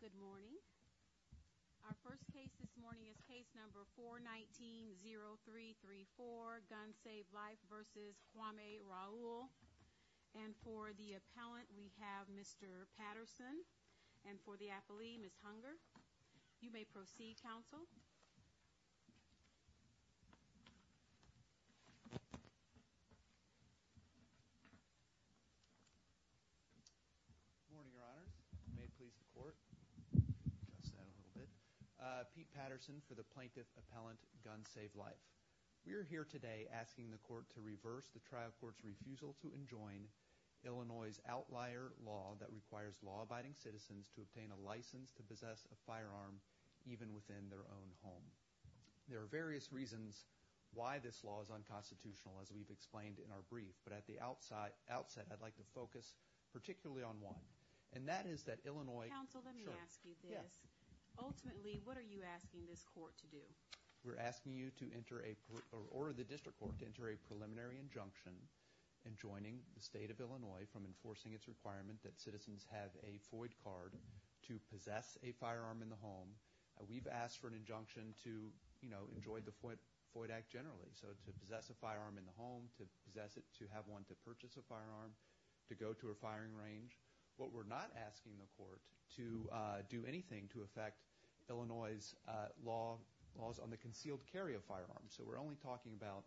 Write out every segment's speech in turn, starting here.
Good morning. Our first case this morning is case number 419-0334, Guns Save Lives, v. Hwame Raoul. And for the appellant, we have Mr. Patterson. And for the appellee, Ms. Hunger. You may proceed, counsel. Good morning, Your Honors. May it please the Court, adjust that a little bit, Pete Patterson for the plaintiff appellant, Guns Save Lives. We are here today asking the Court to reverse the trial court's refusal to enjoin Illinois's outlier law that requires law-abiding citizens to obtain a license to possess a firearm even within their own home. There are various reasons why this law is unconstitutional, as we've explained in our brief. But at the outset, I'd like to focus particularly on one. And that is that Illinois... Counsel, let me ask you this. Sure. Yeah. Ultimately, what are you asking this Court to do? We're asking you to order the district court to enter a preliminary injunction enjoining the state of Illinois from enforcing its requirement that citizens have a FOID card to possess a firearm in the home. We've asked for an injunction to enjoy the FOID Act generally, so to possess a firearm in the home, to possess it, to have one, to purchase a firearm, to go to a firing range. But we're not asking the Court to do anything to affect Illinois's laws on the concealed carry of firearms. So we're only talking about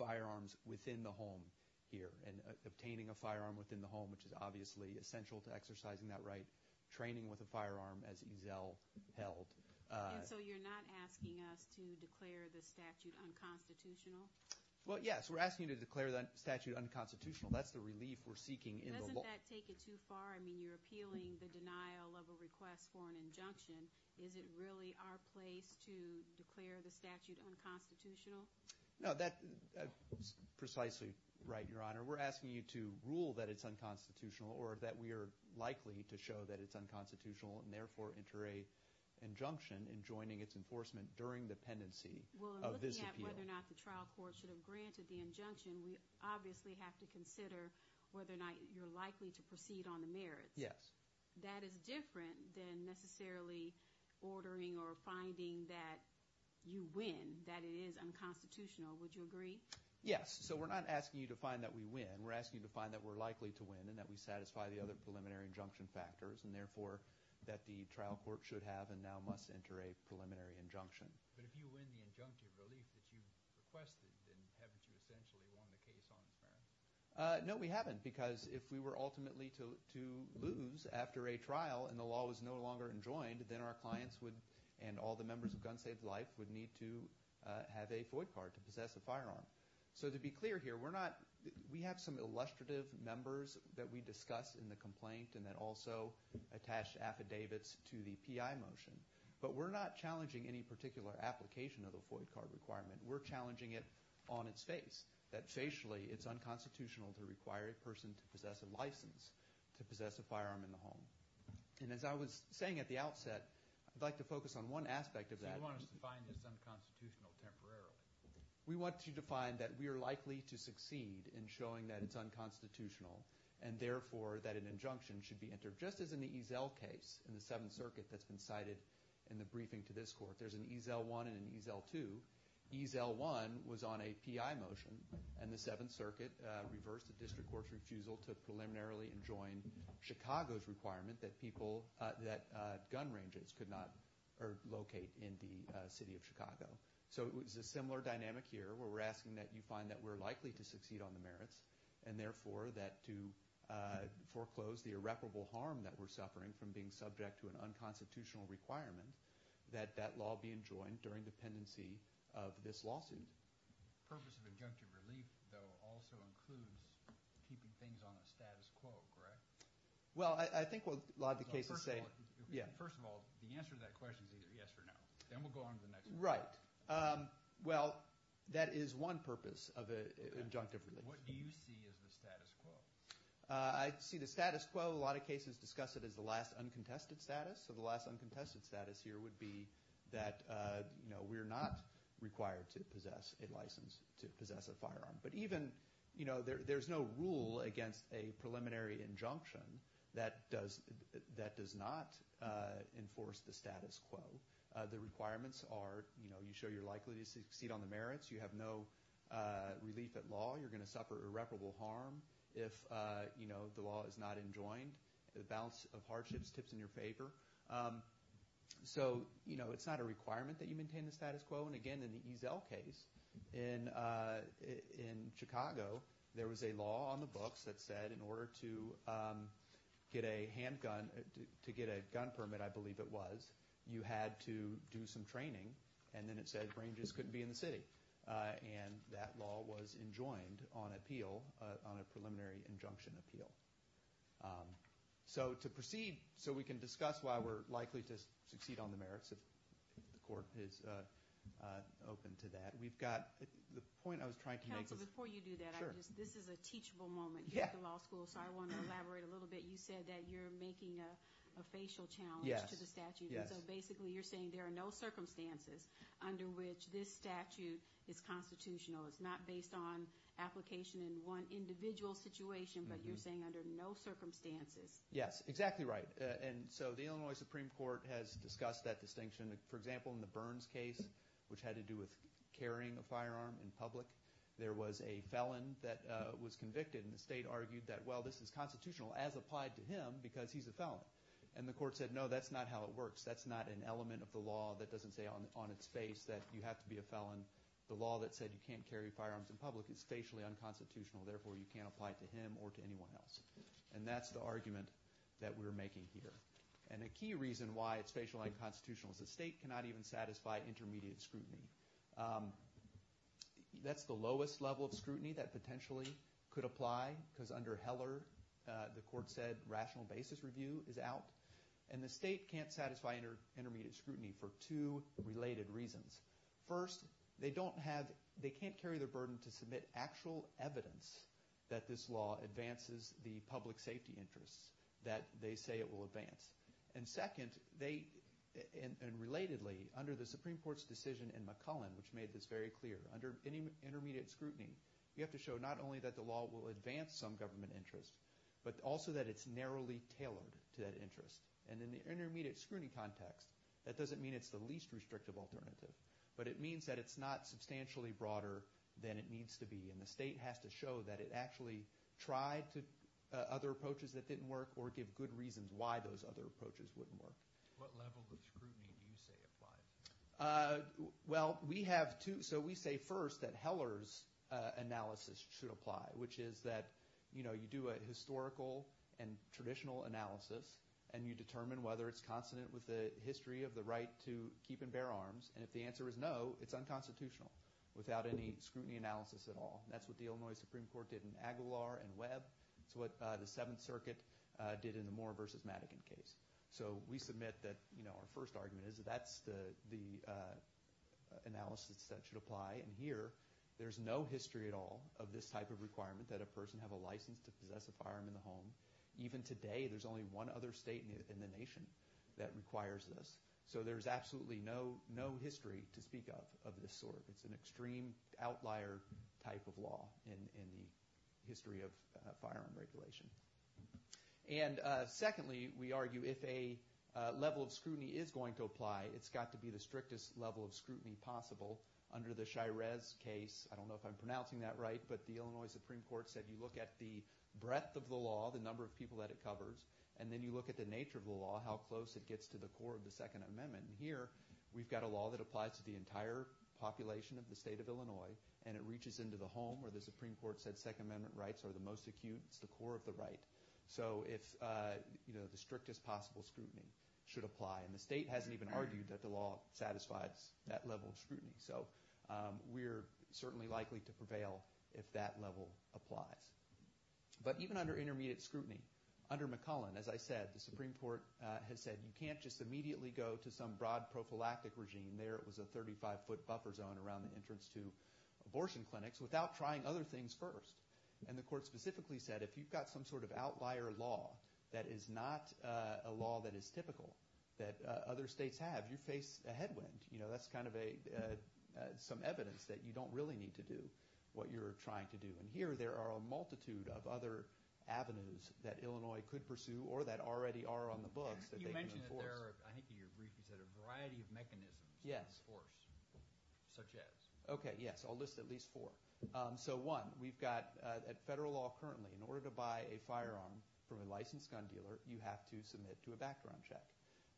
firearms within the home here, and obtaining a firearm within the home, which is obviously essential to exercising that right. Training with a firearm, as Ezell held. And so you're not asking us to declare the statute unconstitutional? Well, yes. We're asking you to declare the statute unconstitutional. That's the relief we're seeking in the law. Doesn't that take it too far? I mean, you're appealing the denial of a request for an injunction. Is it really our place to declare the statute unconstitutional? No, that's precisely right, Your Honor. We're asking you to rule that it's unconstitutional, or that we are likely to show that it's unconstitutional, and therefore enter an injunction in joining its enforcement during the pendency of this appeal. Well, in looking at whether or not the trial court should have granted the injunction, we obviously have to consider whether or not you're likely to proceed on the merits. Yes. That is different than necessarily ordering or finding that you win, that it is unconstitutional. Would you agree? Yes. So we're not asking you to find that we win. We're asking you to find that we're likely to win and that we satisfy the other preliminary injunction factors, and therefore that the trial court should have and now must enter a preliminary injunction. But if you win the injunctive relief that you requested, then haven't you essentially won the case on its merits? No, we haven't, because if we were ultimately to lose after a trial and the law was no longer enjoined, then our clients would, and all the members of Gun Saved Life, would need to have a FOID card to possess a firearm. So to be clear here, we have some illustrative members that we discuss in the complaint and that also attach affidavits to the PI motion, but we're not challenging any particular application of the FOID card requirement. We're challenging it on its face, that facially it's unconstitutional to require a person to possess a license to possess a firearm in the home. And as I was saying at the outset, I'd like to focus on one aspect of that. So you want us to find this unconstitutional temporarily? We want you to find that we are likely to succeed in showing that it's unconstitutional and therefore that an injunction should be entered. Just as in the Eazell case in the Seventh Circuit that's been cited in the briefing to this court, there's an Eazell 1 and an Eazell 2. Eazell 1 was on a PI motion, and the Seventh Circuit reversed the district court's refusal to preliminarily enjoin Chicago's requirement that people, that gun ranges could not locate in the city of Chicago. So it's a similar dynamic here where we're asking that you find that we're likely to succeed on the merits and therefore that to foreclose the irreparable harm that we're suffering from being subject to an unconstitutional requirement, that that law be enjoined during dependency of this lawsuit. Purpose of injunctive relief, though, also includes keeping things on a status quo, correct? Well, I think what a lot of the cases say – First of all, the answer to that question is either yes or no. Then we'll go on to the next one. Right. Well, that is one purpose of an injunctive relief. What do you see as the status quo? I see the status quo – a lot of cases discuss it as the last uncontested status. So the last uncontested status here would be that we're not required to possess a license to possess a firearm. But even – there's no rule against a preliminary injunction that does not enforce the status quo. The requirements are you show your likelihood to succeed on the merits. You have no relief at law. You're going to suffer irreparable harm if the law is not enjoined. The balance of hardships tips in your favor. So it's not a requirement that you maintain the status quo. And again, in the Eazell case in Chicago, there was a law on the books that said in you had to do some training, and then it said ranges couldn't be in the city. And that law was enjoined on appeal – on a preliminary injunction appeal. So to proceed – so we can discuss why we're likely to succeed on the merits if the court is open to that. We've got – the point I was trying to make was – Counsel, before you do that, I just – this is a teachable moment. You're at the law school, so I want to elaborate a little bit. You said that you're making a facial challenge to the statute. Yes, yes. And so basically you're saying there are no circumstances under which this statute is constitutional. It's not based on application in one individual situation, but you're saying under no circumstances. Yes, exactly right. And so the Illinois Supreme Court has discussed that distinction. For example, in the Burns case, which had to do with carrying a firearm in public, there was a felon that was convicted. And the state argued that, well, this is constitutional as applied to him because he's a felon. And the court said, no, that's not how it works. That's not an element of the law that doesn't say on its face that you have to be a felon. The law that said you can't carry firearms in public is facially unconstitutional. Therefore, you can't apply it to him or to anyone else. And that's the argument that we're making here. And a key reason why it's facially unconstitutional is the state cannot even satisfy intermediate scrutiny. That's the lowest level of scrutiny that potentially could apply, because under Heller the court said rational basis review is out. And the state can't satisfy intermediate scrutiny for two related reasons. First, they can't carry the burden to submit actual evidence that this law advances the public safety interests that they say it will advance. And second, they – and relatedly, under the Supreme Court's decision in McCullen, which made this very clear, under any intermediate scrutiny, you have to show not only that the law will advance some government interest, but also that it's narrowly tailored to that interest. And in the intermediate scrutiny context, that doesn't mean it's the least restrictive alternative, but it means that it's not substantially broader than it needs to be. And the state has to show that it actually tried other approaches that didn't work or give good reasons why those other approaches wouldn't work. What level of scrutiny do you say applies? Well, we have two – so we say first that Heller's analysis should apply, which is that you do a historical and traditional analysis, and you determine whether it's consonant with the history of the right to keep and bear arms. And if the answer is no, it's unconstitutional without any scrutiny analysis at all. That's what the Illinois Supreme Court did in Aguilar and Webb. It's what the Seventh Circuit did in the Moore v. Madigan case. So we submit that our first argument is that that's the analysis that should apply. And here there's no history at all of this type of requirement, that a person have a license to possess a firearm in the home. Even today there's only one other state in the nation that requires this. So there's absolutely no history to speak of of this sort. It's an extreme outlier type of law in the history of firearm regulation. And secondly, we argue if a level of scrutiny is going to apply, it's got to be the strictest level of scrutiny possible. Under the Shires case, I don't know if I'm pronouncing that right, but the Illinois Supreme Court said you look at the breadth of the law, the number of people that it covers, and then you look at the nature of the law, how close it gets to the core of the Second Amendment. And here we've got a law that applies to the entire population of the state of Illinois, and it reaches into the home where the Supreme Court said Second Amendment rights are the most acute, it's the core of the right. So the strictest possible scrutiny should apply. And the state hasn't even argued that the law satisfies that level of scrutiny. So we're certainly likely to prevail if that level applies. But even under intermediate scrutiny, under McClellan, as I said, the Supreme Court has said you can't just immediately go to some broad prophylactic regime. There it was a 35-foot buffer zone around the entrance to abortion clinics without trying other things first. And the court specifically said if you've got some sort of outlier law that is not a law that is typical that other states have, you face a headwind. That's kind of some evidence that you don't really need to do what you're trying to do. And here there are a multitude of other avenues that Illinois could pursue or that already are on the books that they can enforce. You mentioned that there are, I think in your brief you said, a variety of mechanisms to enforce such as. Okay, yes, I'll list at least four. So one, we've got at federal law currently in order to buy a firearm from a licensed gun dealer, you have to submit to a background check.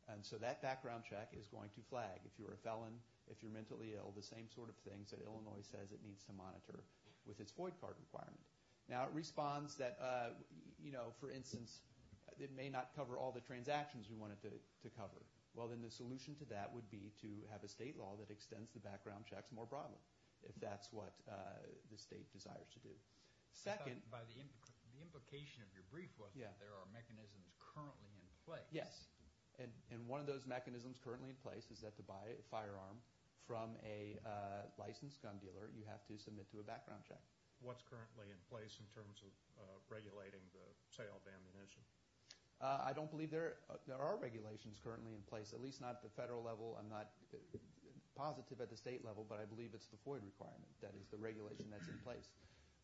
And so that background check is going to flag if you're a felon, if you're mentally ill, the same sort of things that Illinois says it needs to monitor with its void card requirement. Now it responds that, you know, for instance, it may not cover all the transactions we want it to cover. Well, then the solution to that would be to have a state law that extends the background checks more broadly if that's what the state desires to do. Second. The implication of your brief was that there are mechanisms currently in place. Yes. And one of those mechanisms currently in place is that to buy a firearm from a licensed gun dealer, you have to submit to a background check. What's currently in place in terms of regulating the sale of ammunition? I don't believe there are regulations currently in place, at least not at the federal level. I'm not positive at the state level, but I believe it's the void requirement that is the regulation that's in place.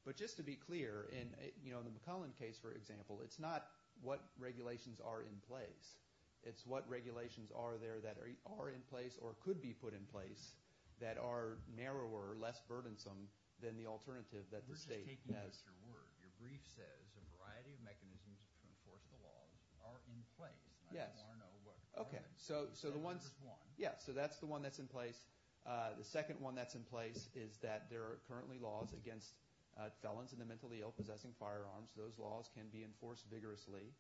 But just to be clear, in the McClellan case, for example, it's not what regulations are in place. It's what regulations are there that are in place or could be put in place that are narrower, less burdensome than the alternative that the state has. You're just taking it at your word. Your brief says a variety of mechanisms to enforce the laws are in place. Yes. I don't want to know what the requirements are. Okay. So that's the one that's in place. The second one that's in place is that there are currently laws against felons and the mentally ill possessing firearms. Those laws can be enforced vigorously.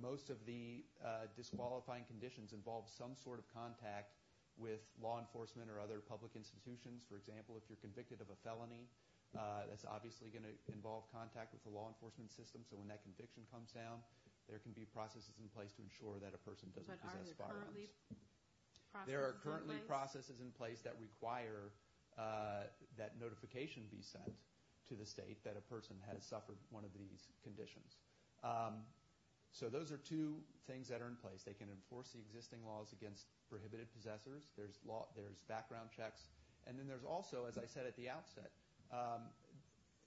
Most of the disqualifying conditions involve some sort of contact with law enforcement or other public institutions. For example, if you're convicted of a felony, that's obviously going to involve contact with the law enforcement system. So when that conviction comes down, there can be processes in place to ensure that a person doesn't possess firearms. But are there currently processes in place? There are currently processes in place that require that notification be sent to the state that a person has suffered one of these conditions. So those are two things that are in place. They can enforce the existing laws against prohibited possessors. There's background checks. And then there's also, as I said at the outset,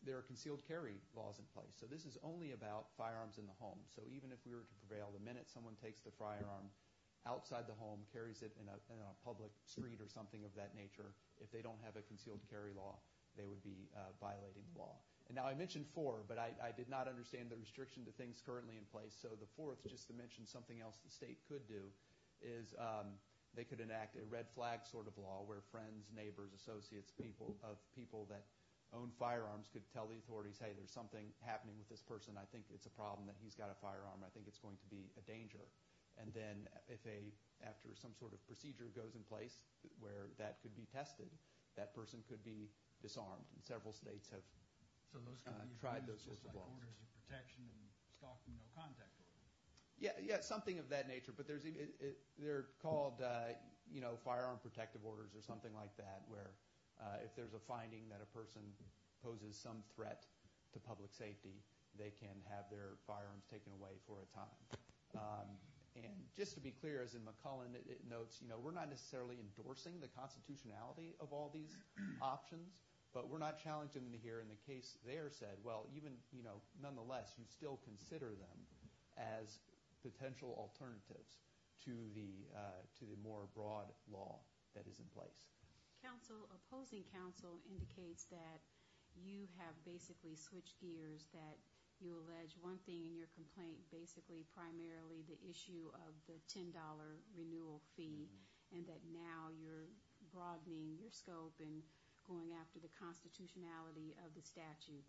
there are concealed carry laws in place. So this is only about firearms in the home. So even if we were to prevail, the minute someone takes the firearm outside the home, carries it in a public street or something of that nature, if they don't have a concealed carry law, they would be violating the law. Now I mentioned four, but I did not understand the restriction to things currently in place. So the fourth, just to mention something else the state could do, is they could enact a red flag sort of law where friends, neighbors, associates of people that own firearms could tell the authorities, hey, there's something happening with this person. I think it's a problem that he's got a firearm. I think it's going to be a danger. And then if after some sort of procedure goes in place where that could be tested, that person could be disarmed. And several states have tried those sorts of laws. There are orders of protection and stalking no contact orders. Yeah, something of that nature. But they're called firearm protective orders or something like that where if there's a finding that a person poses some threat to public safety, they can have their firearms taken away for a time. And just to be clear, as in McCullen it notes, we're not necessarily endorsing the constitutionality of all these options, but we're not challenging them here. And the case there said, well, even nonetheless, you still consider them as potential alternatives to the more broad law that is in place. Opposing counsel indicates that you have basically switched gears, that you allege one thing in your complaint, basically primarily the issue of the $10 renewal fee, and you've been going after the constitutionality of the statute.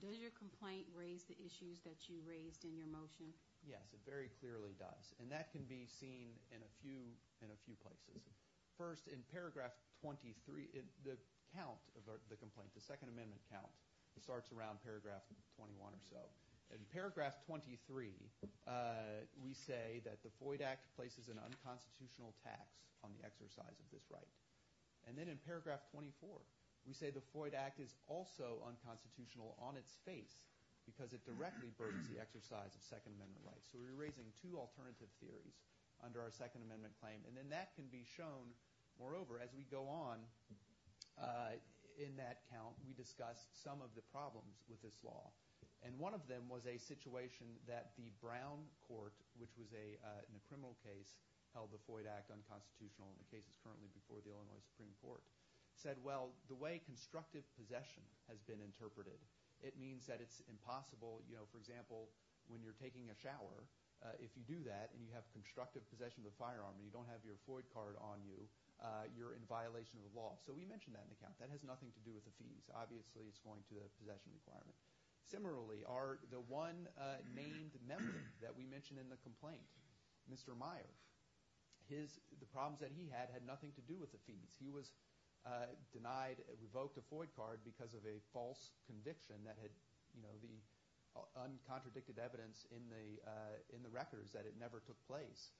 Does your complaint raise the issues that you raised in your motion? Yes, it very clearly does, and that can be seen in a few places. First, in paragraph 23, the count of the complaint, the Second Amendment count, starts around paragraph 21 or so. In paragraph 23, we say that the FOID Act places an unconstitutional tax on the exercise of this right. And then in paragraph 24, we say the FOID Act is also unconstitutional on its face because it directly burdens the exercise of Second Amendment rights. So we're raising two alternative theories under our Second Amendment claim. And then that can be shown, moreover, as we go on in that count, we discussed some of the problems with this law. And one of them was a situation that the Brown Court, which was in a criminal case, held the FOID Act unconstitutional in the cases currently before the Illinois Supreme Court, said, well, the way constructive possession has been interpreted, it means that it's impossible, you know, for example, when you're taking a shower, if you do that and you have constructive possession of the firearm and you don't have your FOID card on you, you're in violation of the law. So we mentioned that in the count. That has nothing to do with the fees. Obviously, it's going to the possession requirement. Similarly, the one named member that we mentioned in the complaint, Mr. Meyer, the problems that he had had nothing to do with the fees. He was denied, revoked a FOID card because of a false conviction that had, you know, the uncontradicted evidence in the records that it never took place.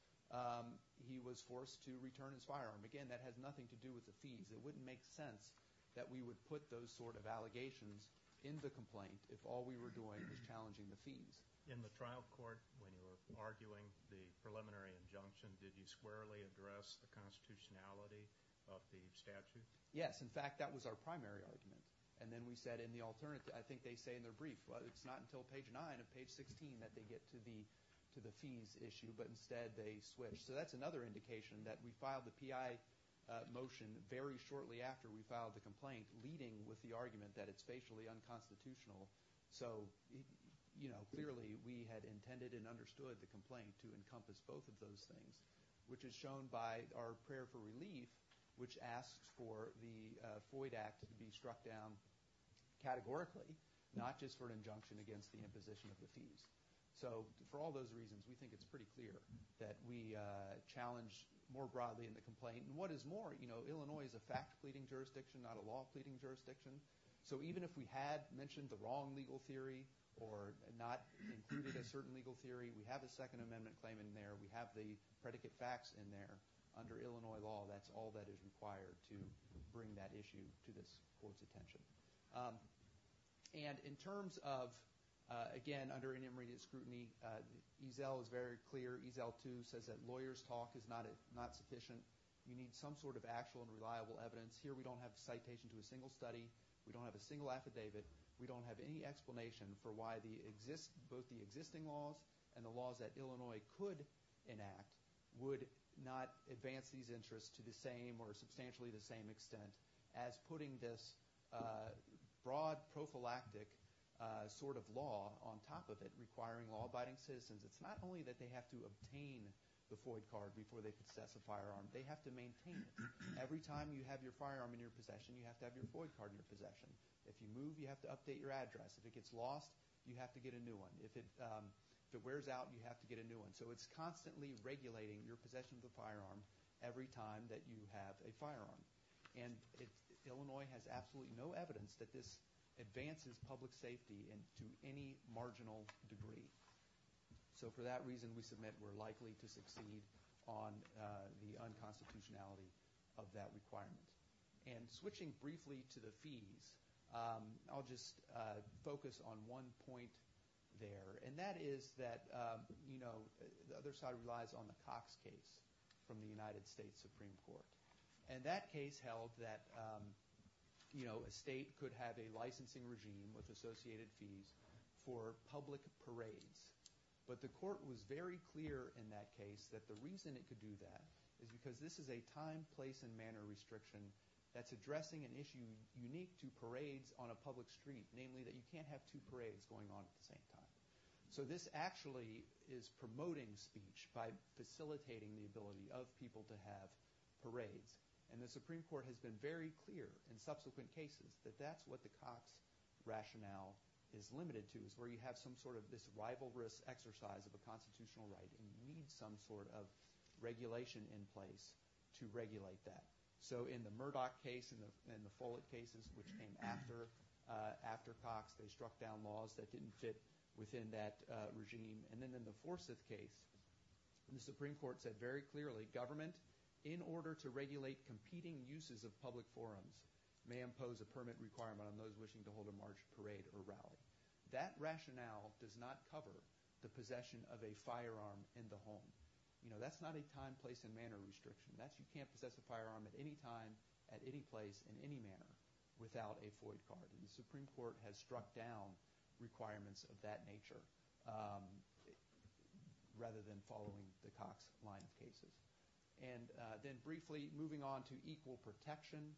He was forced to return his firearm. Again, that has nothing to do with the fees. It wouldn't make sense that we would put those sort of allegations in the complaint if all we were doing was challenging the fees. In the trial court, when you were arguing the preliminary injunction, did you squarely address the constitutionality of the statute? Yes. In fact, that was our primary argument. And then we said in the alternative, I think they say in their brief, well, it's not until page 9 and page 16 that they get to the fees issue, but instead they switch. So that's another indication that we filed the PI motion very shortly after we filed the complaint, leading with the argument that it's facially unconstitutional. So, you know, clearly we had intended and understood the complaint to encompass both of those things, which is shown by our prayer for relief, which asks for the FOID Act to be struck down categorically, not just for an injunction against the imposition of the fees. So for all those reasons, we think it's pretty clear that we challenge more broadly in the complaint. And what is more, you know, Illinois is a fact pleading jurisdiction, not a law pleading jurisdiction. So even if we had mentioned the wrong legal theory or not included a certain legal theory, we have a Second Amendment claim in there. We have the predicate facts in there. Under Illinois law, that's all that is required to bring that issue to this court's attention. And in terms of, again, under inimmediate scrutiny, EZEL is very clear. EZEL 2 says that lawyer's talk is not sufficient. You need some sort of actual and reliable evidence. Here we don't have citation to a single study. We don't have a single affidavit. We don't have any explanation for why both the existing laws and the laws that Illinois could enact would not advance these interests to the same or substantially the same extent as putting this broad prophylactic sort of law on top of it, requiring law-abiding citizens. It's not only that they have to obtain the FOID card before they can assess a firearm. They have to maintain it. Every time you have your firearm in your possession, you have to have your FOID card in your possession. If you move, you have to update your address. If it gets lost, you have to get a new one. If it wears out, you have to get a new one. So it's constantly regulating your possession of the firearm every time that you have a firearm. And Illinois has absolutely no evidence that this advances public safety to any marginal degree. So for that reason, we submit we're likely to succeed on the unconstitutionality of that requirement. And switching briefly to the fees, I'll just focus on one point there, and that is that the other side relies on the Cox case from the United States Supreme Court. And that case held that a state could have a licensing regime with associated fees for public parades. But the court was very clear in that case that the reason it could do that is because this is a time, place, and manner restriction that's addressing an issue unique to parades on a public street, namely that you can't have two parades going on at the same time. So this actually is promoting speech by facilitating the ability of people to have parades. And the Supreme Court has been very clear in subsequent cases that that's what the Cox rationale is limited to, is where you have some sort of this rivalrous exercise of a constitutional right, and you need some sort of regulation in place to regulate that. So in the Murdoch case and the Follett cases, which came after Cox, they struck down laws that didn't fit within that regime. And then in the Forsyth case, the Supreme Court said very clearly, government, in order to regulate competing uses of public forums, may impose a permit requirement on those wishing to hold a march, parade, or rally. That rationale does not cover the possession of a firearm in the home. That's not a time, place, and manner restriction. You can't possess a firearm at any time, at any place, in any manner without a FOID card. The Supreme Court has struck down requirements of that nature rather than following the Cox line of cases. And then briefly, moving on to equal protection,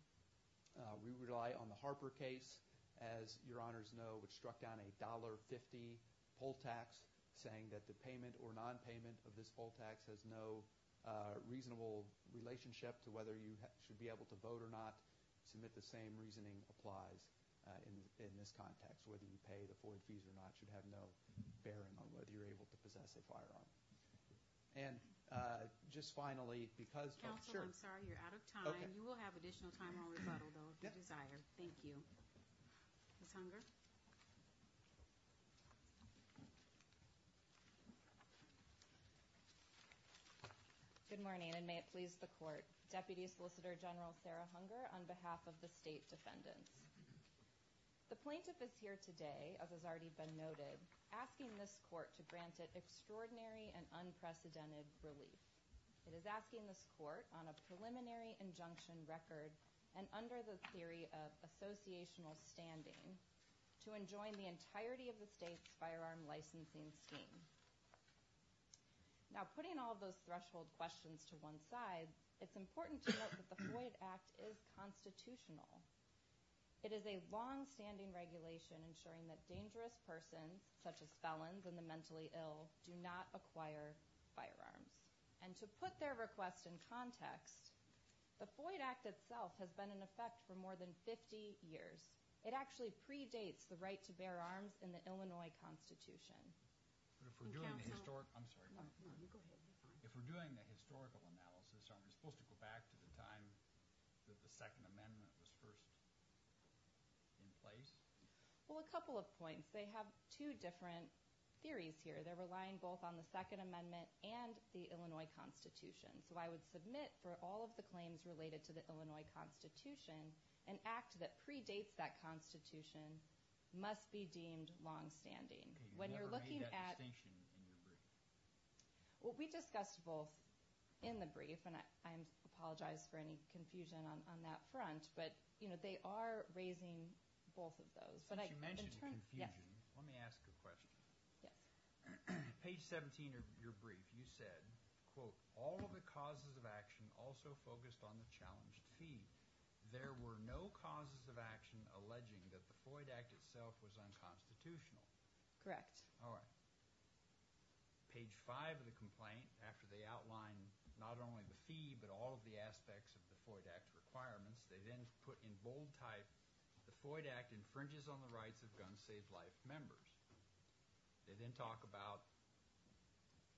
we rely on the Harper case, as your honors know, which struck down a $1.50 poll tax saying that the payment or nonpayment of this poll tax has no reasonable relationship to whether you should be able to vote or not. Submit the same reasoning applies in this context. Whether you pay the FOID fees or not should have no bearing on whether you're able to possess a firearm. And just finally, because – Counsel, I'm sorry, you're out of time. You will have additional time on rebuttal, though, if you desire. Thank you. Good morning, and may it please the Court. Deputy Solicitor General Sarah Hunger on behalf of the state defendants. The plaintiff is here today, as has already been noted, asking this Court to grant it extraordinary and unprecedented relief. It is asking this Court, on a preliminary injunction record and under the theory of associational standing, to enjoin the entirety of the state's firearm licensing scheme. Now, putting all of those threshold questions to one side, it's important to note that the FOID Act is constitutional. It is a longstanding regulation ensuring that dangerous persons, such as felons and the mentally ill, do not acquire firearms. And to put their request in context, the FOID Act itself has been in effect for more than 50 years. It actually predates the right to bear arms in the Illinois Constitution. But if we're doing the historical – I'm sorry. No, you go ahead. If we're doing the historical analysis, are we supposed to go back to the time that the Second Amendment was first in place? Well, a couple of points. They have two different theories here. They're relying both on the Second Amendment and the Illinois Constitution. So I would submit for all of the claims related to the Illinois Constitution an act that predates that Constitution must be deemed longstanding. Okay, you never made that distinction in your brief. Well, we discussed both in the brief, and I apologize for any confusion on that front. But, you know, they are raising both of those. But you mentioned confusion. Let me ask a question. Yes. Page 17 of your brief, you said, quote, All of the causes of action also focused on the challenged fee. There were no causes of action alleging that the Foyd Act itself was unconstitutional. Correct. All right. Page 5 of the complaint, after they outline not only the fee but all of the aspects of the Foyd Act requirements, they then put in bold type, The Foyd Act infringes on the rights of gun safe life members. They then talk about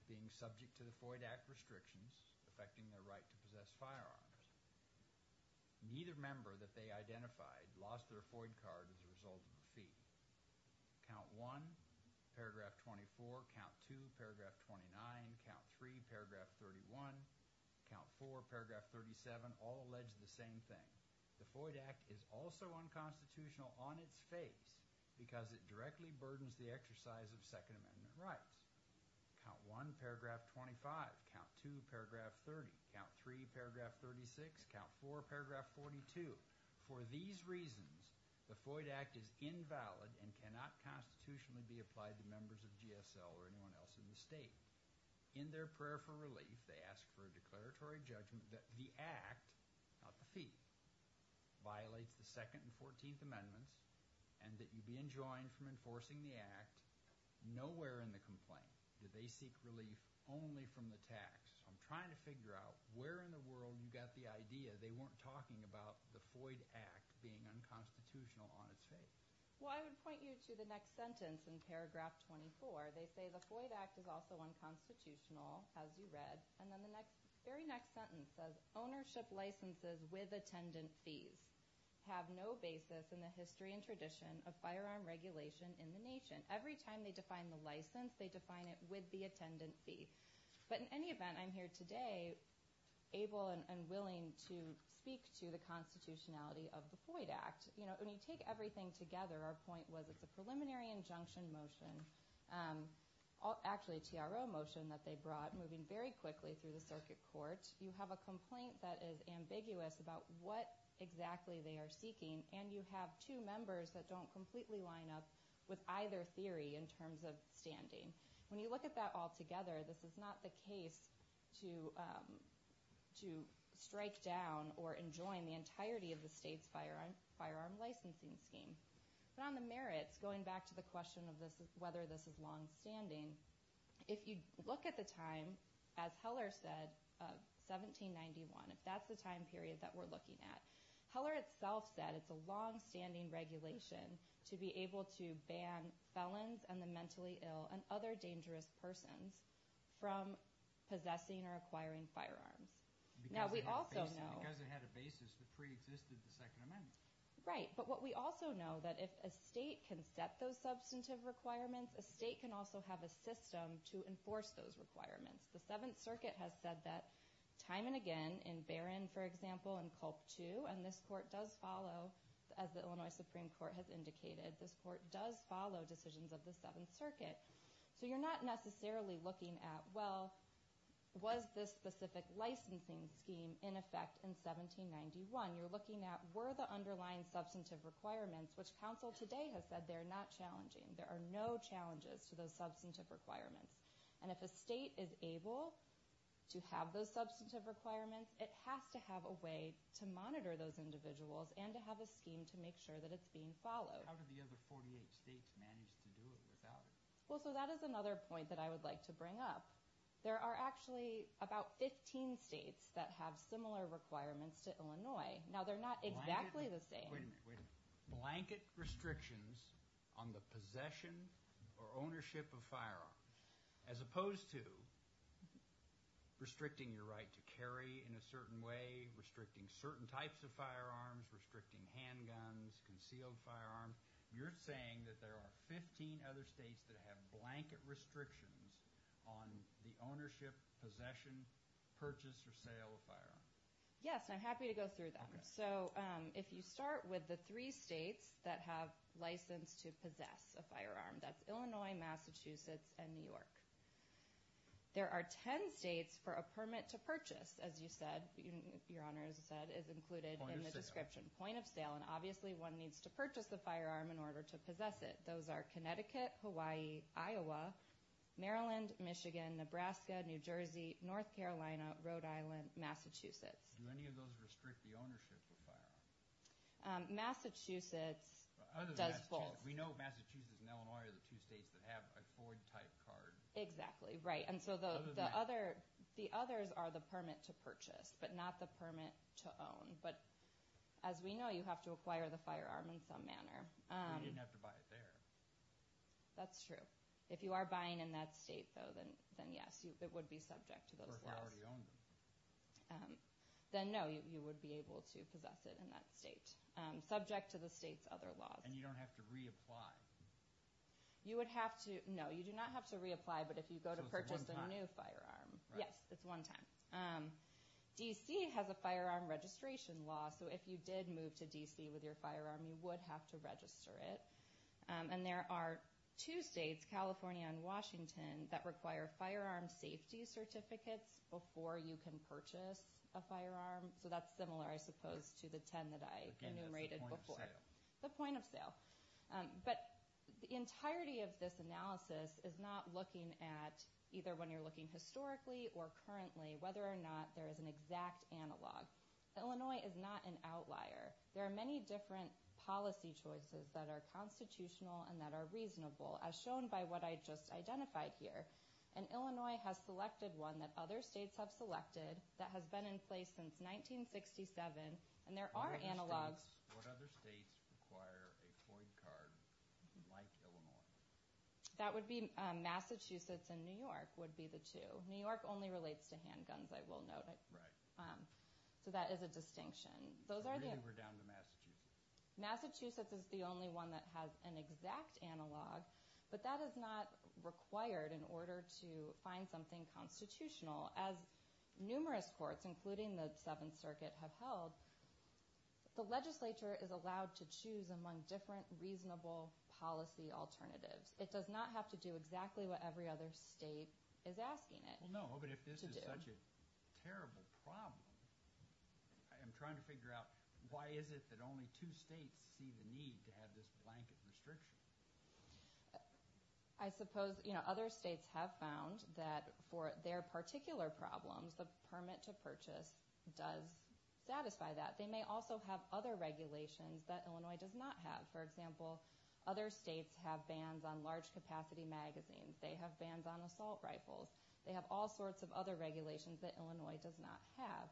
being subject to the Foyd Act restrictions affecting their right to possess firearms. Neither member that they identified lost their Foyd card as a result of the fee. Count 1, paragraph 24. Count 2, paragraph 29. Count 3, paragraph 31. Count 4, paragraph 37. All allege the same thing. The Foyd Act is also unconstitutional on its face because it directly burdens the exercise of Second Amendment rights. Count 1, paragraph 25. Count 2, paragraph 30. Count 3, paragraph 36. Count 4, paragraph 42. For these reasons, the Foyd Act is invalid and cannot constitutionally be applied to members of GSL or anyone else in the state. In their prayer for relief, they ask for a declaratory judgment that the Act, not the fee, violates the Second and Fourteenth Amendments and that you be enjoined from enforcing the Act. Nowhere in the complaint do they seek relief only from the tax. I'm trying to figure out where in the world you got the idea they weren't talking about the Foyd Act being unconstitutional on its face. Well, I would point you to the next sentence in paragraph 24. They say the Foyd Act is also unconstitutional, as you read, and then the very next sentence says, Ownership licenses with attendant fees have no basis in the history and tradition of firearm regulation in the nation. Every time they define the license, they define it with the attendant fee. But in any event, I'm here today able and willing to speak to the constitutionality of the Foyd Act. When you take everything together, our point was it's a preliminary injunction motion, actually a TRO motion that they brought moving very quickly through the circuit court. You have a complaint that is ambiguous about what exactly they are seeking, and you have two members that don't completely line up with either theory in terms of standing. When you look at that all together, this is not the case to strike down or enjoin the entirety of the state's firearm licensing scheme. But on the merits, going back to the question of whether this is longstanding, if you look at the time, as Heller said, 1791, if that's the time period that we're looking at, Heller itself said it's a longstanding regulation to be able to ban felons and the mentally ill and other dangerous persons from possessing or acquiring firearms. Now, we also know— Because it had a basis that preexisted the Second Amendment. Right, but what we also know, that if a state can set those substantive requirements, a state can also have a system to enforce those requirements. The Seventh Circuit has said that time and again, in Barron, for example, and Culp II, and this court does follow, as the Illinois Supreme Court has indicated, this court does follow decisions of the Seventh Circuit. So you're not necessarily looking at, well, was this specific licensing scheme in effect in 1791? You're looking at were the underlying substantive requirements, which counsel today has said they are not challenging. There are no challenges to those substantive requirements. And if a state is able to have those substantive requirements, it has to have a way to monitor those individuals and to have a scheme to make sure that it's being followed. How did the other 48 states manage to do it without it? Well, so that is another point that I would like to bring up. There are actually about 15 states that have similar requirements to Illinois. Now, they're not exactly the same. Wait a minute. Blanket restrictions on the possession or ownership of firearms, as opposed to restricting your right to carry in a certain way, restricting certain types of firearms, restricting handguns, concealed firearms. You're saying that there are 15 other states that have blanket restrictions on the ownership, possession, purchase, or sale of firearms. Yes, and I'm happy to go through them. So if you start with the three states that have license to possess a firearm, that's Illinois, Massachusetts, and New York. There are 10 states for a permit to purchase, as you said, Your Honor, as I said, is included in the description. Point of sale. Point of sale, and obviously one needs to purchase the firearm in order to possess it. Those are Connecticut, Hawaii, Iowa, Maryland, Michigan, Nebraska, New Jersey, North Carolina, Rhode Island, Massachusetts. Do any of those restrict the ownership of firearms? Massachusetts does both. We know Massachusetts and Illinois are the two states that have a Ford-type card. Exactly, right. And so the others are the permit to purchase, but not the permit to own. But as we know, you have to acquire the firearm in some manner. You didn't have to buy it there. That's true. If you are buying in that state, though, then yes, it would be subject to those laws. Then no, you would be able to possess it in that state. Subject to the state's other laws. And you don't have to reapply. You would have to, no, you do not have to reapply, but if you go to purchase a new firearm. Yes, it's one time. D.C. has a firearm registration law, so if you did move to D.C. with your firearm, you would have to register it. And there are two states, California and Washington, that require firearm safety certificates before you can purchase a firearm. So that's similar, I suppose, to the ten that I enumerated before. Again, that's the point of sale. The point of sale. But the entirety of this analysis is not looking at, either when you're looking historically or currently, whether or not there is an exact analog. Illinois is not an outlier. There are many different policy choices that are constitutional and that are reasonable. As shown by what I just identified here. And Illinois has selected one that other states have selected that has been in place since 1967. And there are analogs. What other states require a FOID card like Illinois? That would be Massachusetts and New York would be the two. New York only relates to handguns, I will note. Right. So that is a distinction. So really we're down to Massachusetts. Massachusetts is the only one that has an exact analog, but that is not required in order to find something constitutional. As numerous courts, including the Seventh Circuit, have held, the legislature is allowed to choose among different reasonable policy alternatives. It does not have to do exactly what every other state is asking it to do. Well, no, but if this is such a terrible problem, I'm trying to figure out why is it that only two states see the need to have this blanket restriction? I suppose other states have found that for their particular problems, the permit to purchase does satisfy that. They may also have other regulations that Illinois does not have. For example, other states have bans on large capacity magazines. They have bans on assault rifles. They have all sorts of other regulations that Illinois does not have.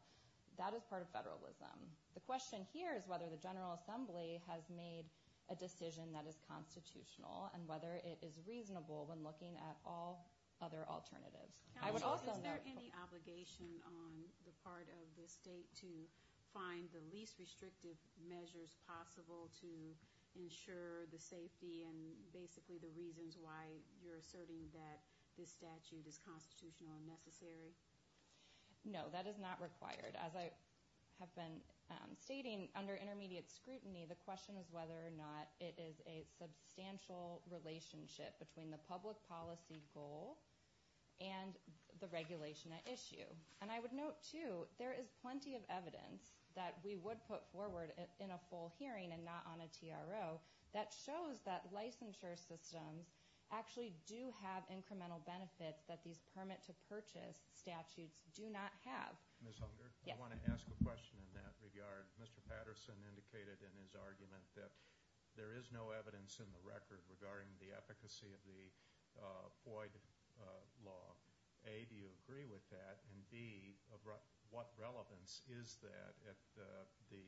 That is part of federalism. The question here is whether the General Assembly has made a decision that is constitutional and whether it is reasonable when looking at all other alternatives. Counsel, is there any obligation on the part of the state and basically the reasons why you're asserting that this statute is constitutional and necessary? No, that is not required. As I have been stating, under intermediate scrutiny, the question is whether or not it is a substantial relationship between the public policy goal and the regulation at issue. And I would note, too, there is plenty of evidence that we would put forward in a full hearing and not on a TRO that shows that licensure systems actually do have incremental benefits that these permit-to-purchase statutes do not have. Ms. Hunger, I want to ask a question in that regard. Mr. Patterson indicated in his argument that there is no evidence in the record regarding the efficacy of the FOID law. A, do you agree with that? And B, what relevance is that at the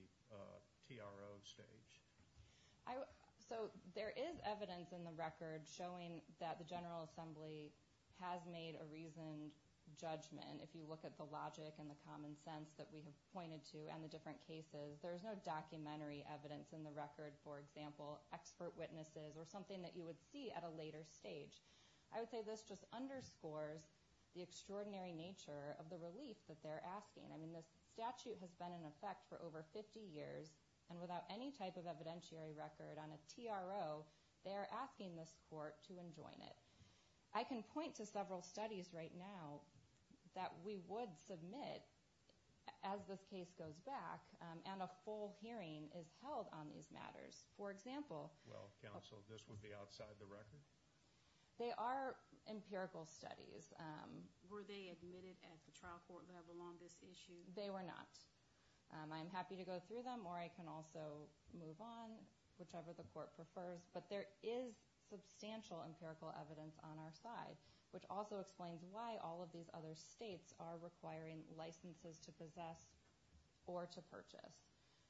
TRO stage? So there is evidence in the record showing that the General Assembly has made a reasoned judgment. If you look at the logic and the common sense that we have pointed to and the different cases, there is no documentary evidence in the record, for example, expert witnesses or something that you would see at a later stage. I would say this just underscores the extraordinary nature of the relief that they're asking. I mean, this statute has been in effect for over 50 years, and without any type of evidentiary record on a TRO, they are asking this court to enjoin it. I can point to several studies right now that we would submit as this case goes back and a full hearing is held on these matters. For example— Well, counsel, this would be outside the record? They are empirical studies. Were they admitted at the trial court level on this issue? They were not. I'm happy to go through them, or I can also move on, whichever the court prefers. But there is substantial empirical evidence on our side, which also explains why all of these other states are requiring licenses to possess or to purchase.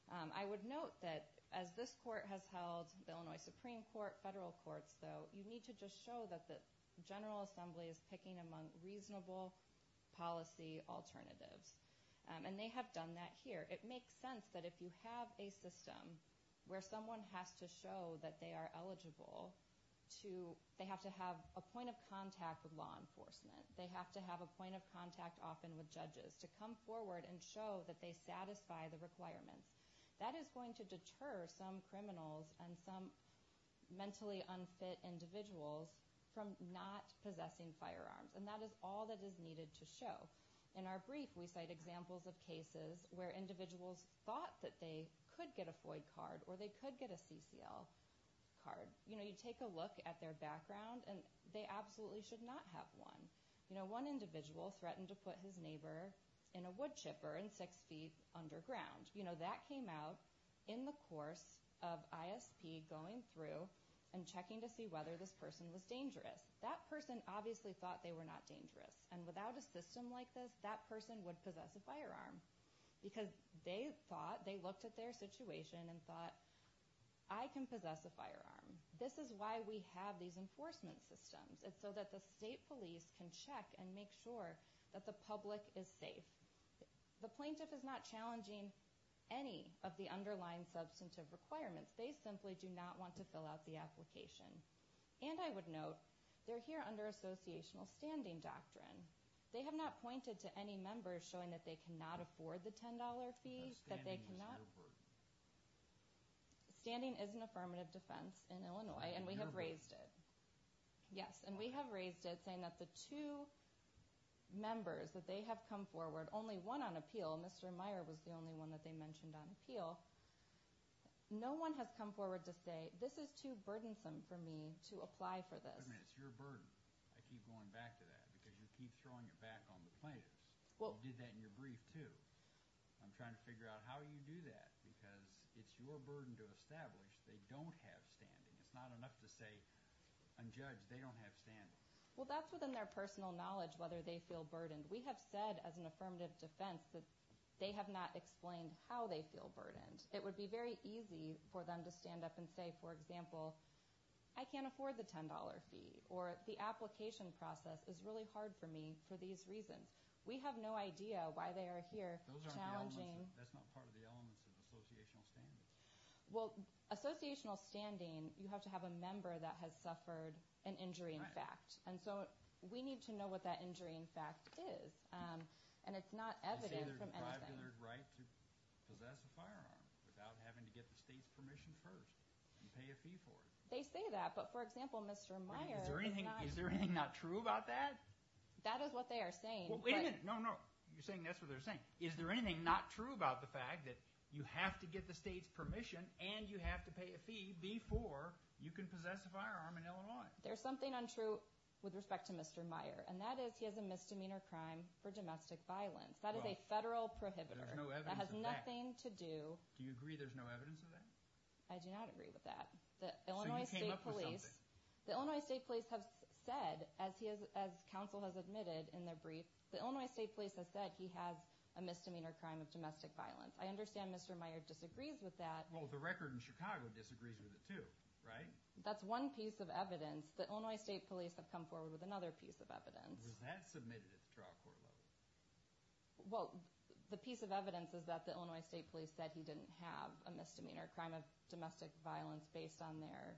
I would note that as this court has held the Illinois Supreme Court, federal courts, though, you need to just show that the General Assembly is picking among reasonable policy alternatives. And they have done that here. It makes sense that if you have a system where someone has to show that they are eligible to— they have to have a point of contact with law enforcement, they have to have a point of contact often with judges, to come forward and show that they satisfy the requirements. That is going to deter some criminals and some mentally unfit individuals from not possessing firearms. And that is all that is needed to show. In our brief, we cite examples of cases where individuals thought that they could get a FOID card or they could get a CCL card. You take a look at their background, and they absolutely should not have one. One individual threatened to put his neighbor in a wood chipper and six feet underground. That came out in the course of ISP going through and checking to see whether this person was dangerous. That person obviously thought they were not dangerous. And without a system like this, that person would possess a firearm. Because they thought—they looked at their situation and thought, I can possess a firearm. This is why we have these enforcement systems. It's so that the state police can check and make sure that the public is safe. The plaintiff is not challenging any of the underlying substantive requirements. They simply do not want to fill out the application. And I would note, they're here under associational standing doctrine. They have not pointed to any members showing that they cannot afford the $10 fee, that they cannot— Standing is an affirmative defense in Illinois, and we have raised it. Yes, and we have raised it, saying that the two members, that they have come forward, only one on appeal, Mr. Meyer was the only one that they mentioned on appeal. No one has come forward to say, this is too burdensome for me to apply for this. Wait a minute, it's your burden. I keep going back to that, because you keep throwing it back on the plaintiffs. You did that in your brief, too. I'm trying to figure out how you do that, because it's your burden to establish they don't have standing. It's not enough to say, unjudged, they don't have standing. Well, that's within their personal knowledge, whether they feel burdened. We have said, as an affirmative defense, that they have not explained how they feel burdened. It would be very easy for them to stand up and say, for example, I can't afford the $10 fee, or the application process is really hard for me for these reasons. We have no idea why they are here challenging— Those aren't the elements. That's not part of the elements of associational standing. Well, associational standing, you have to have a member that has suffered an injury in fact. And so we need to know what that injury in fact is. And it's not evident from anything. They say there's a privileged right to possess a firearm without having to get the state's permission first and pay a fee for it. They say that, but, for example, Mr. Meyer is not— Is there anything not true about that? That is what they are saying, but— Well, wait a minute. No, no. You're saying that's what they're saying. Is there anything not true about the fact that you have to get the state's permission and you have to pay a fee before you can possess a firearm in Illinois? There's something untrue with respect to Mr. Meyer, and that is he has a misdemeanor crime for domestic violence. That is a federal prohibitor. There's no evidence of that. That has nothing to do— Do you agree there's no evidence of that? I do not agree with that. So you came up with something. The Illinois State Police have said, as Council has admitted in their brief, the Illinois State Police has said he has a misdemeanor crime of domestic violence. I understand Mr. Meyer disagrees with that. Well, the record in Chicago disagrees with it too, right? That's one piece of evidence. The Illinois State Police have come forward with another piece of evidence. Was that submitted at the trial court level? Well, the piece of evidence is that the Illinois State Police said he didn't have a misdemeanor crime of domestic violence based on their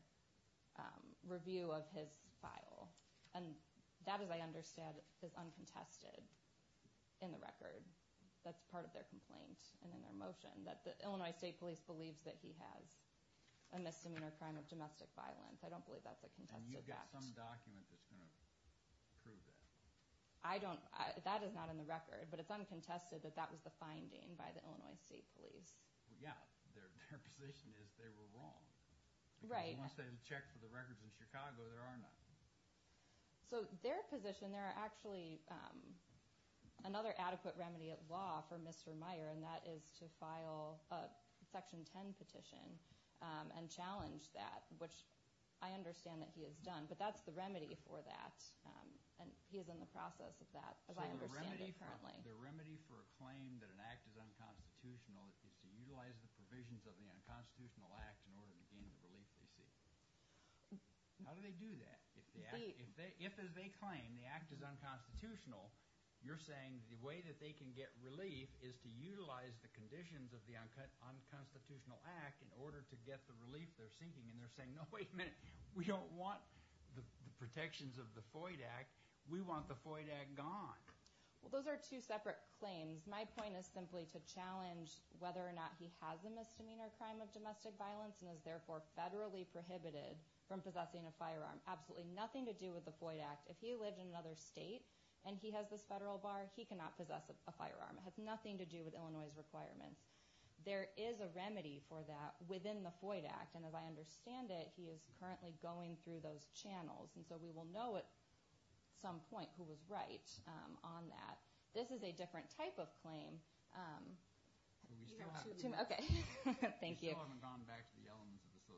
review of his file. And that, as I understand, is uncontested in the record. That's part of their complaint and in their motion, that the Illinois State Police believes that he has a misdemeanor crime of domestic violence. I don't believe that's a contested fact. And you've got some document that's going to prove that. I don't—that is not in the record. But it's uncontested that that was the finding by the Illinois State Police. Yeah, their position is they were wrong. Right. Because once they had checked for the records in Chicago, there are none. So their position, there are actually another adequate remedy at law for Mr. Meyer, and that is to file a Section 10 petition and challenge that, which I understand that he has done. But that's the remedy for that. And he is in the process of that, as I understand it currently. So the remedy for a claim that an act is unconstitutional is to utilize the provisions of the unconstitutional act in order to gain the relief they seek. How do they do that? If, as they claim, the act is unconstitutional, you're saying the way that they can get relief is to utilize the conditions of the unconstitutional act in order to get the relief they're seeking. And they're saying, no, wait a minute. We don't want the protections of the FOID Act. We want the FOID Act gone. Well, those are two separate claims. My point is simply to challenge whether or not he has a misdemeanor crime of domestic violence and is therefore federally prohibited from possessing a firearm. Absolutely nothing to do with the FOID Act. If he lived in another state and he has this federal bar, he cannot possess a firearm. It has nothing to do with Illinois' requirements. There is a remedy for that within the FOID Act. And as I understand it, he is currently going through those channels. And so we will know at some point who was right on that. This is a different type of claim. We still haven't gone back to the elements of associational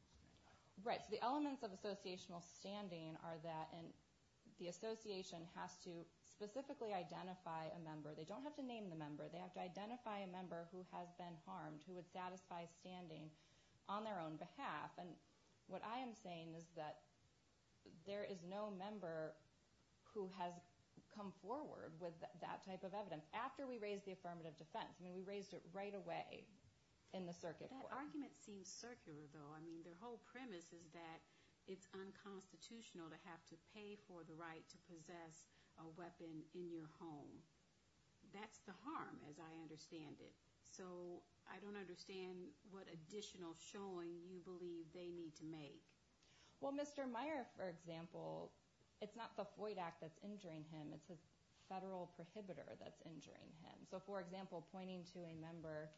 standing. Right. So the elements of associational standing are that the association has to specifically identify a member. They don't have to name the member. They have to identify a member who has been harmed who would satisfy standing on their own behalf. And what I am saying is that there is no member who has come forward with that type of evidence after we raised the affirmative defense. I mean, we raised it right away in the circuit court. That argument seems circular, though. I mean, their whole premise is that it's unconstitutional to have to pay for the right to possess a weapon in your home. That's the harm, as I understand it. So I don't understand what additional showing you believe they need to make. Well, Mr. Meyer, for example, it's not the FOID Act that's injuring him. It's his federal prohibitor that's injuring him. So, for example, pointing to a member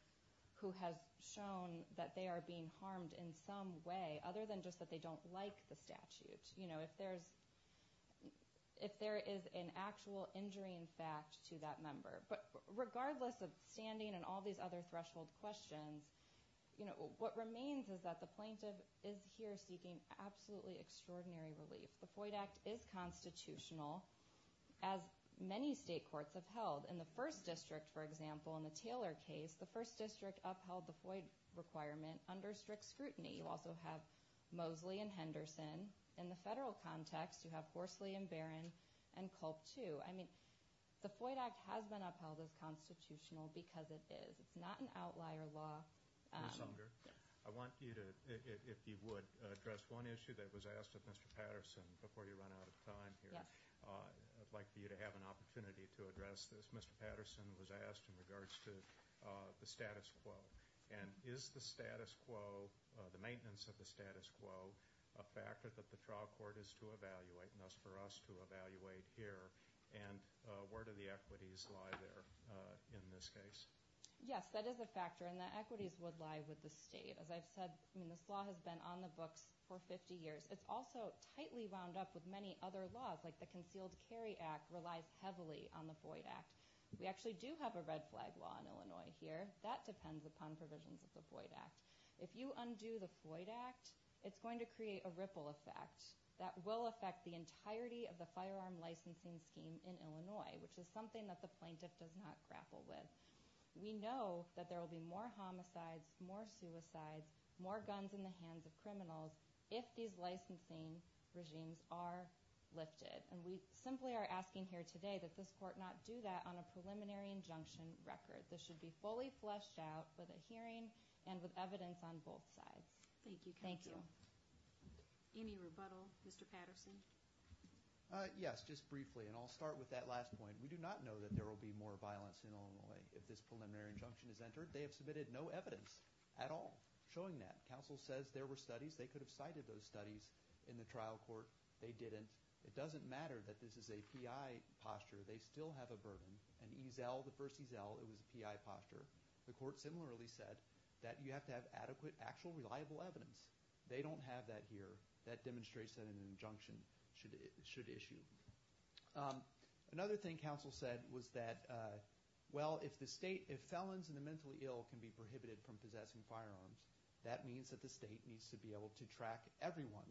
who has shown that they are being harmed in some way, other than just that they don't like the statute, if there is an actual injuring fact to that member. But regardless of standing and all these other threshold questions, what remains is that the plaintiff is here seeking absolutely extraordinary relief. The FOID Act is constitutional, as many state courts have held. In the first district, for example, in the Taylor case, the first district upheld the FOID requirement under strict scrutiny. You also have Mosley and Henderson. In the federal context, you have Horsley and Barron and Culp too. I mean, the FOID Act has been upheld as constitutional because it is. It's not an outlier law. Ms. Unger, I want you to, if you would, address one issue that was asked of Mr. Patterson before you run out of time here. I'd like for you to have an opportunity to address this. Mr. Patterson was asked in regards to the status quo. And is the status quo, the maintenance of the status quo, a factor that the trial court is to evaluate, and thus for us to evaluate here? And where do the equities lie there in this case? Yes, that is a factor, and the equities would lie with the state. As I've said, this law has been on the books for 50 years. It's also tightly wound up with many other laws, like the Concealed Carry Act relies heavily on the FOID Act. We actually do have a red flag law in Illinois here. That depends upon provisions of the FOID Act. If you undo the FOID Act, it's going to create a ripple effect that will affect the entirety of the firearm licensing scheme in Illinois, which is something that the plaintiff does not grapple with. We know that there will be more homicides, more suicides, more guns in the hands of criminals if these licensing regimes are lifted. And we simply are asking here today that this court not do that on a preliminary injunction record. This should be fully fleshed out with a hearing and with evidence on both sides. Thank you, counsel. Any rebuttal, Mr. Patterson? Yes, just briefly, and I'll start with that last point. We do not know that there will be more violence in Illinois if this preliminary injunction is entered. They have submitted no evidence at all showing that. Counsel says there were studies. They could have cited those studies in the trial court. They didn't. It doesn't matter that this is a PI posture. They still have a burden. In Eazell, the first Eazell, it was a PI posture. The court similarly said that you have to have adequate, actual, reliable evidence. They don't have that here. That demonstrates that an injunction should issue. Another thing counsel said was that, well, if felons and the mentally ill can be prohibited from possessing firearms, that means that the state needs to be able to track everyone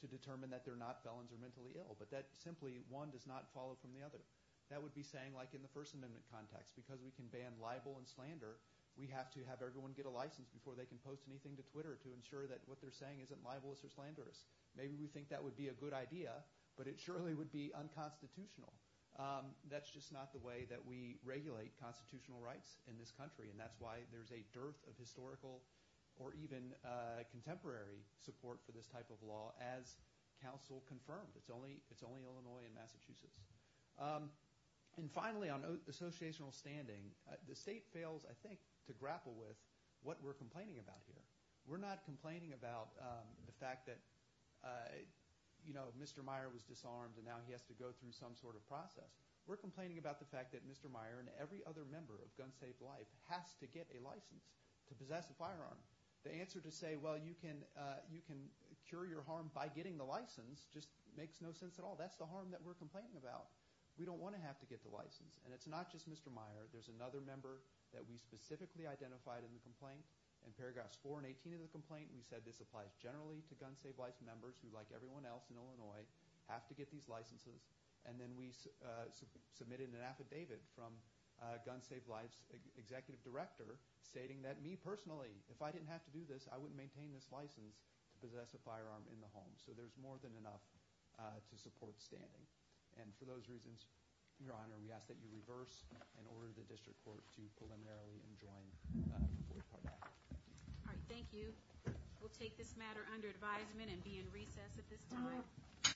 to determine that they're not felons or mentally ill, but that simply one does not follow from the other. That would be saying, like in the First Amendment context, because we can ban libel and slander, we have to have everyone get a license before they can post anything to Twitter to ensure that what they're saying isn't libelous or slanderous. Maybe we think that would be a good idea, but it surely would be unconstitutional. That's just not the way that we regulate constitutional rights in this country, and that's why there's a dearth of historical or even contemporary support for this type of law, as counsel confirmed. It's only Illinois and Massachusetts. And finally, on associational standing, the state fails, I think, to grapple with what we're complaining about here. We're not complaining about the fact that Mr. Meyer was disarmed and now he has to go through some sort of process. We're complaining about the fact that Mr. Meyer and every other member of Gun Save Life has to get a license to possess a firearm. The answer to say, well, you can cure your harm by getting the license just makes no sense at all. That's the harm that we're complaining about. We don't want to have to get the license, and it's not just Mr. Meyer. There's another member that we specifically identified in the complaint. In paragraphs 4 and 18 of the complaint, we said this applies generally to Gun Save Life members who, like everyone else in Illinois, have to get these licenses, and then we submitted an affidavit from Gun Save Life's executive director stating that me, personally, if I didn't have to do this, I wouldn't maintain this license to possess a firearm in the home. So there's more than enough to support standing. And for those reasons, Your Honor, we ask that you reverse and order the district court to preliminarily enjoin the fourth paragraph. All right, thank you. We'll take this matter under advisement and be in recess at this time. Thank you.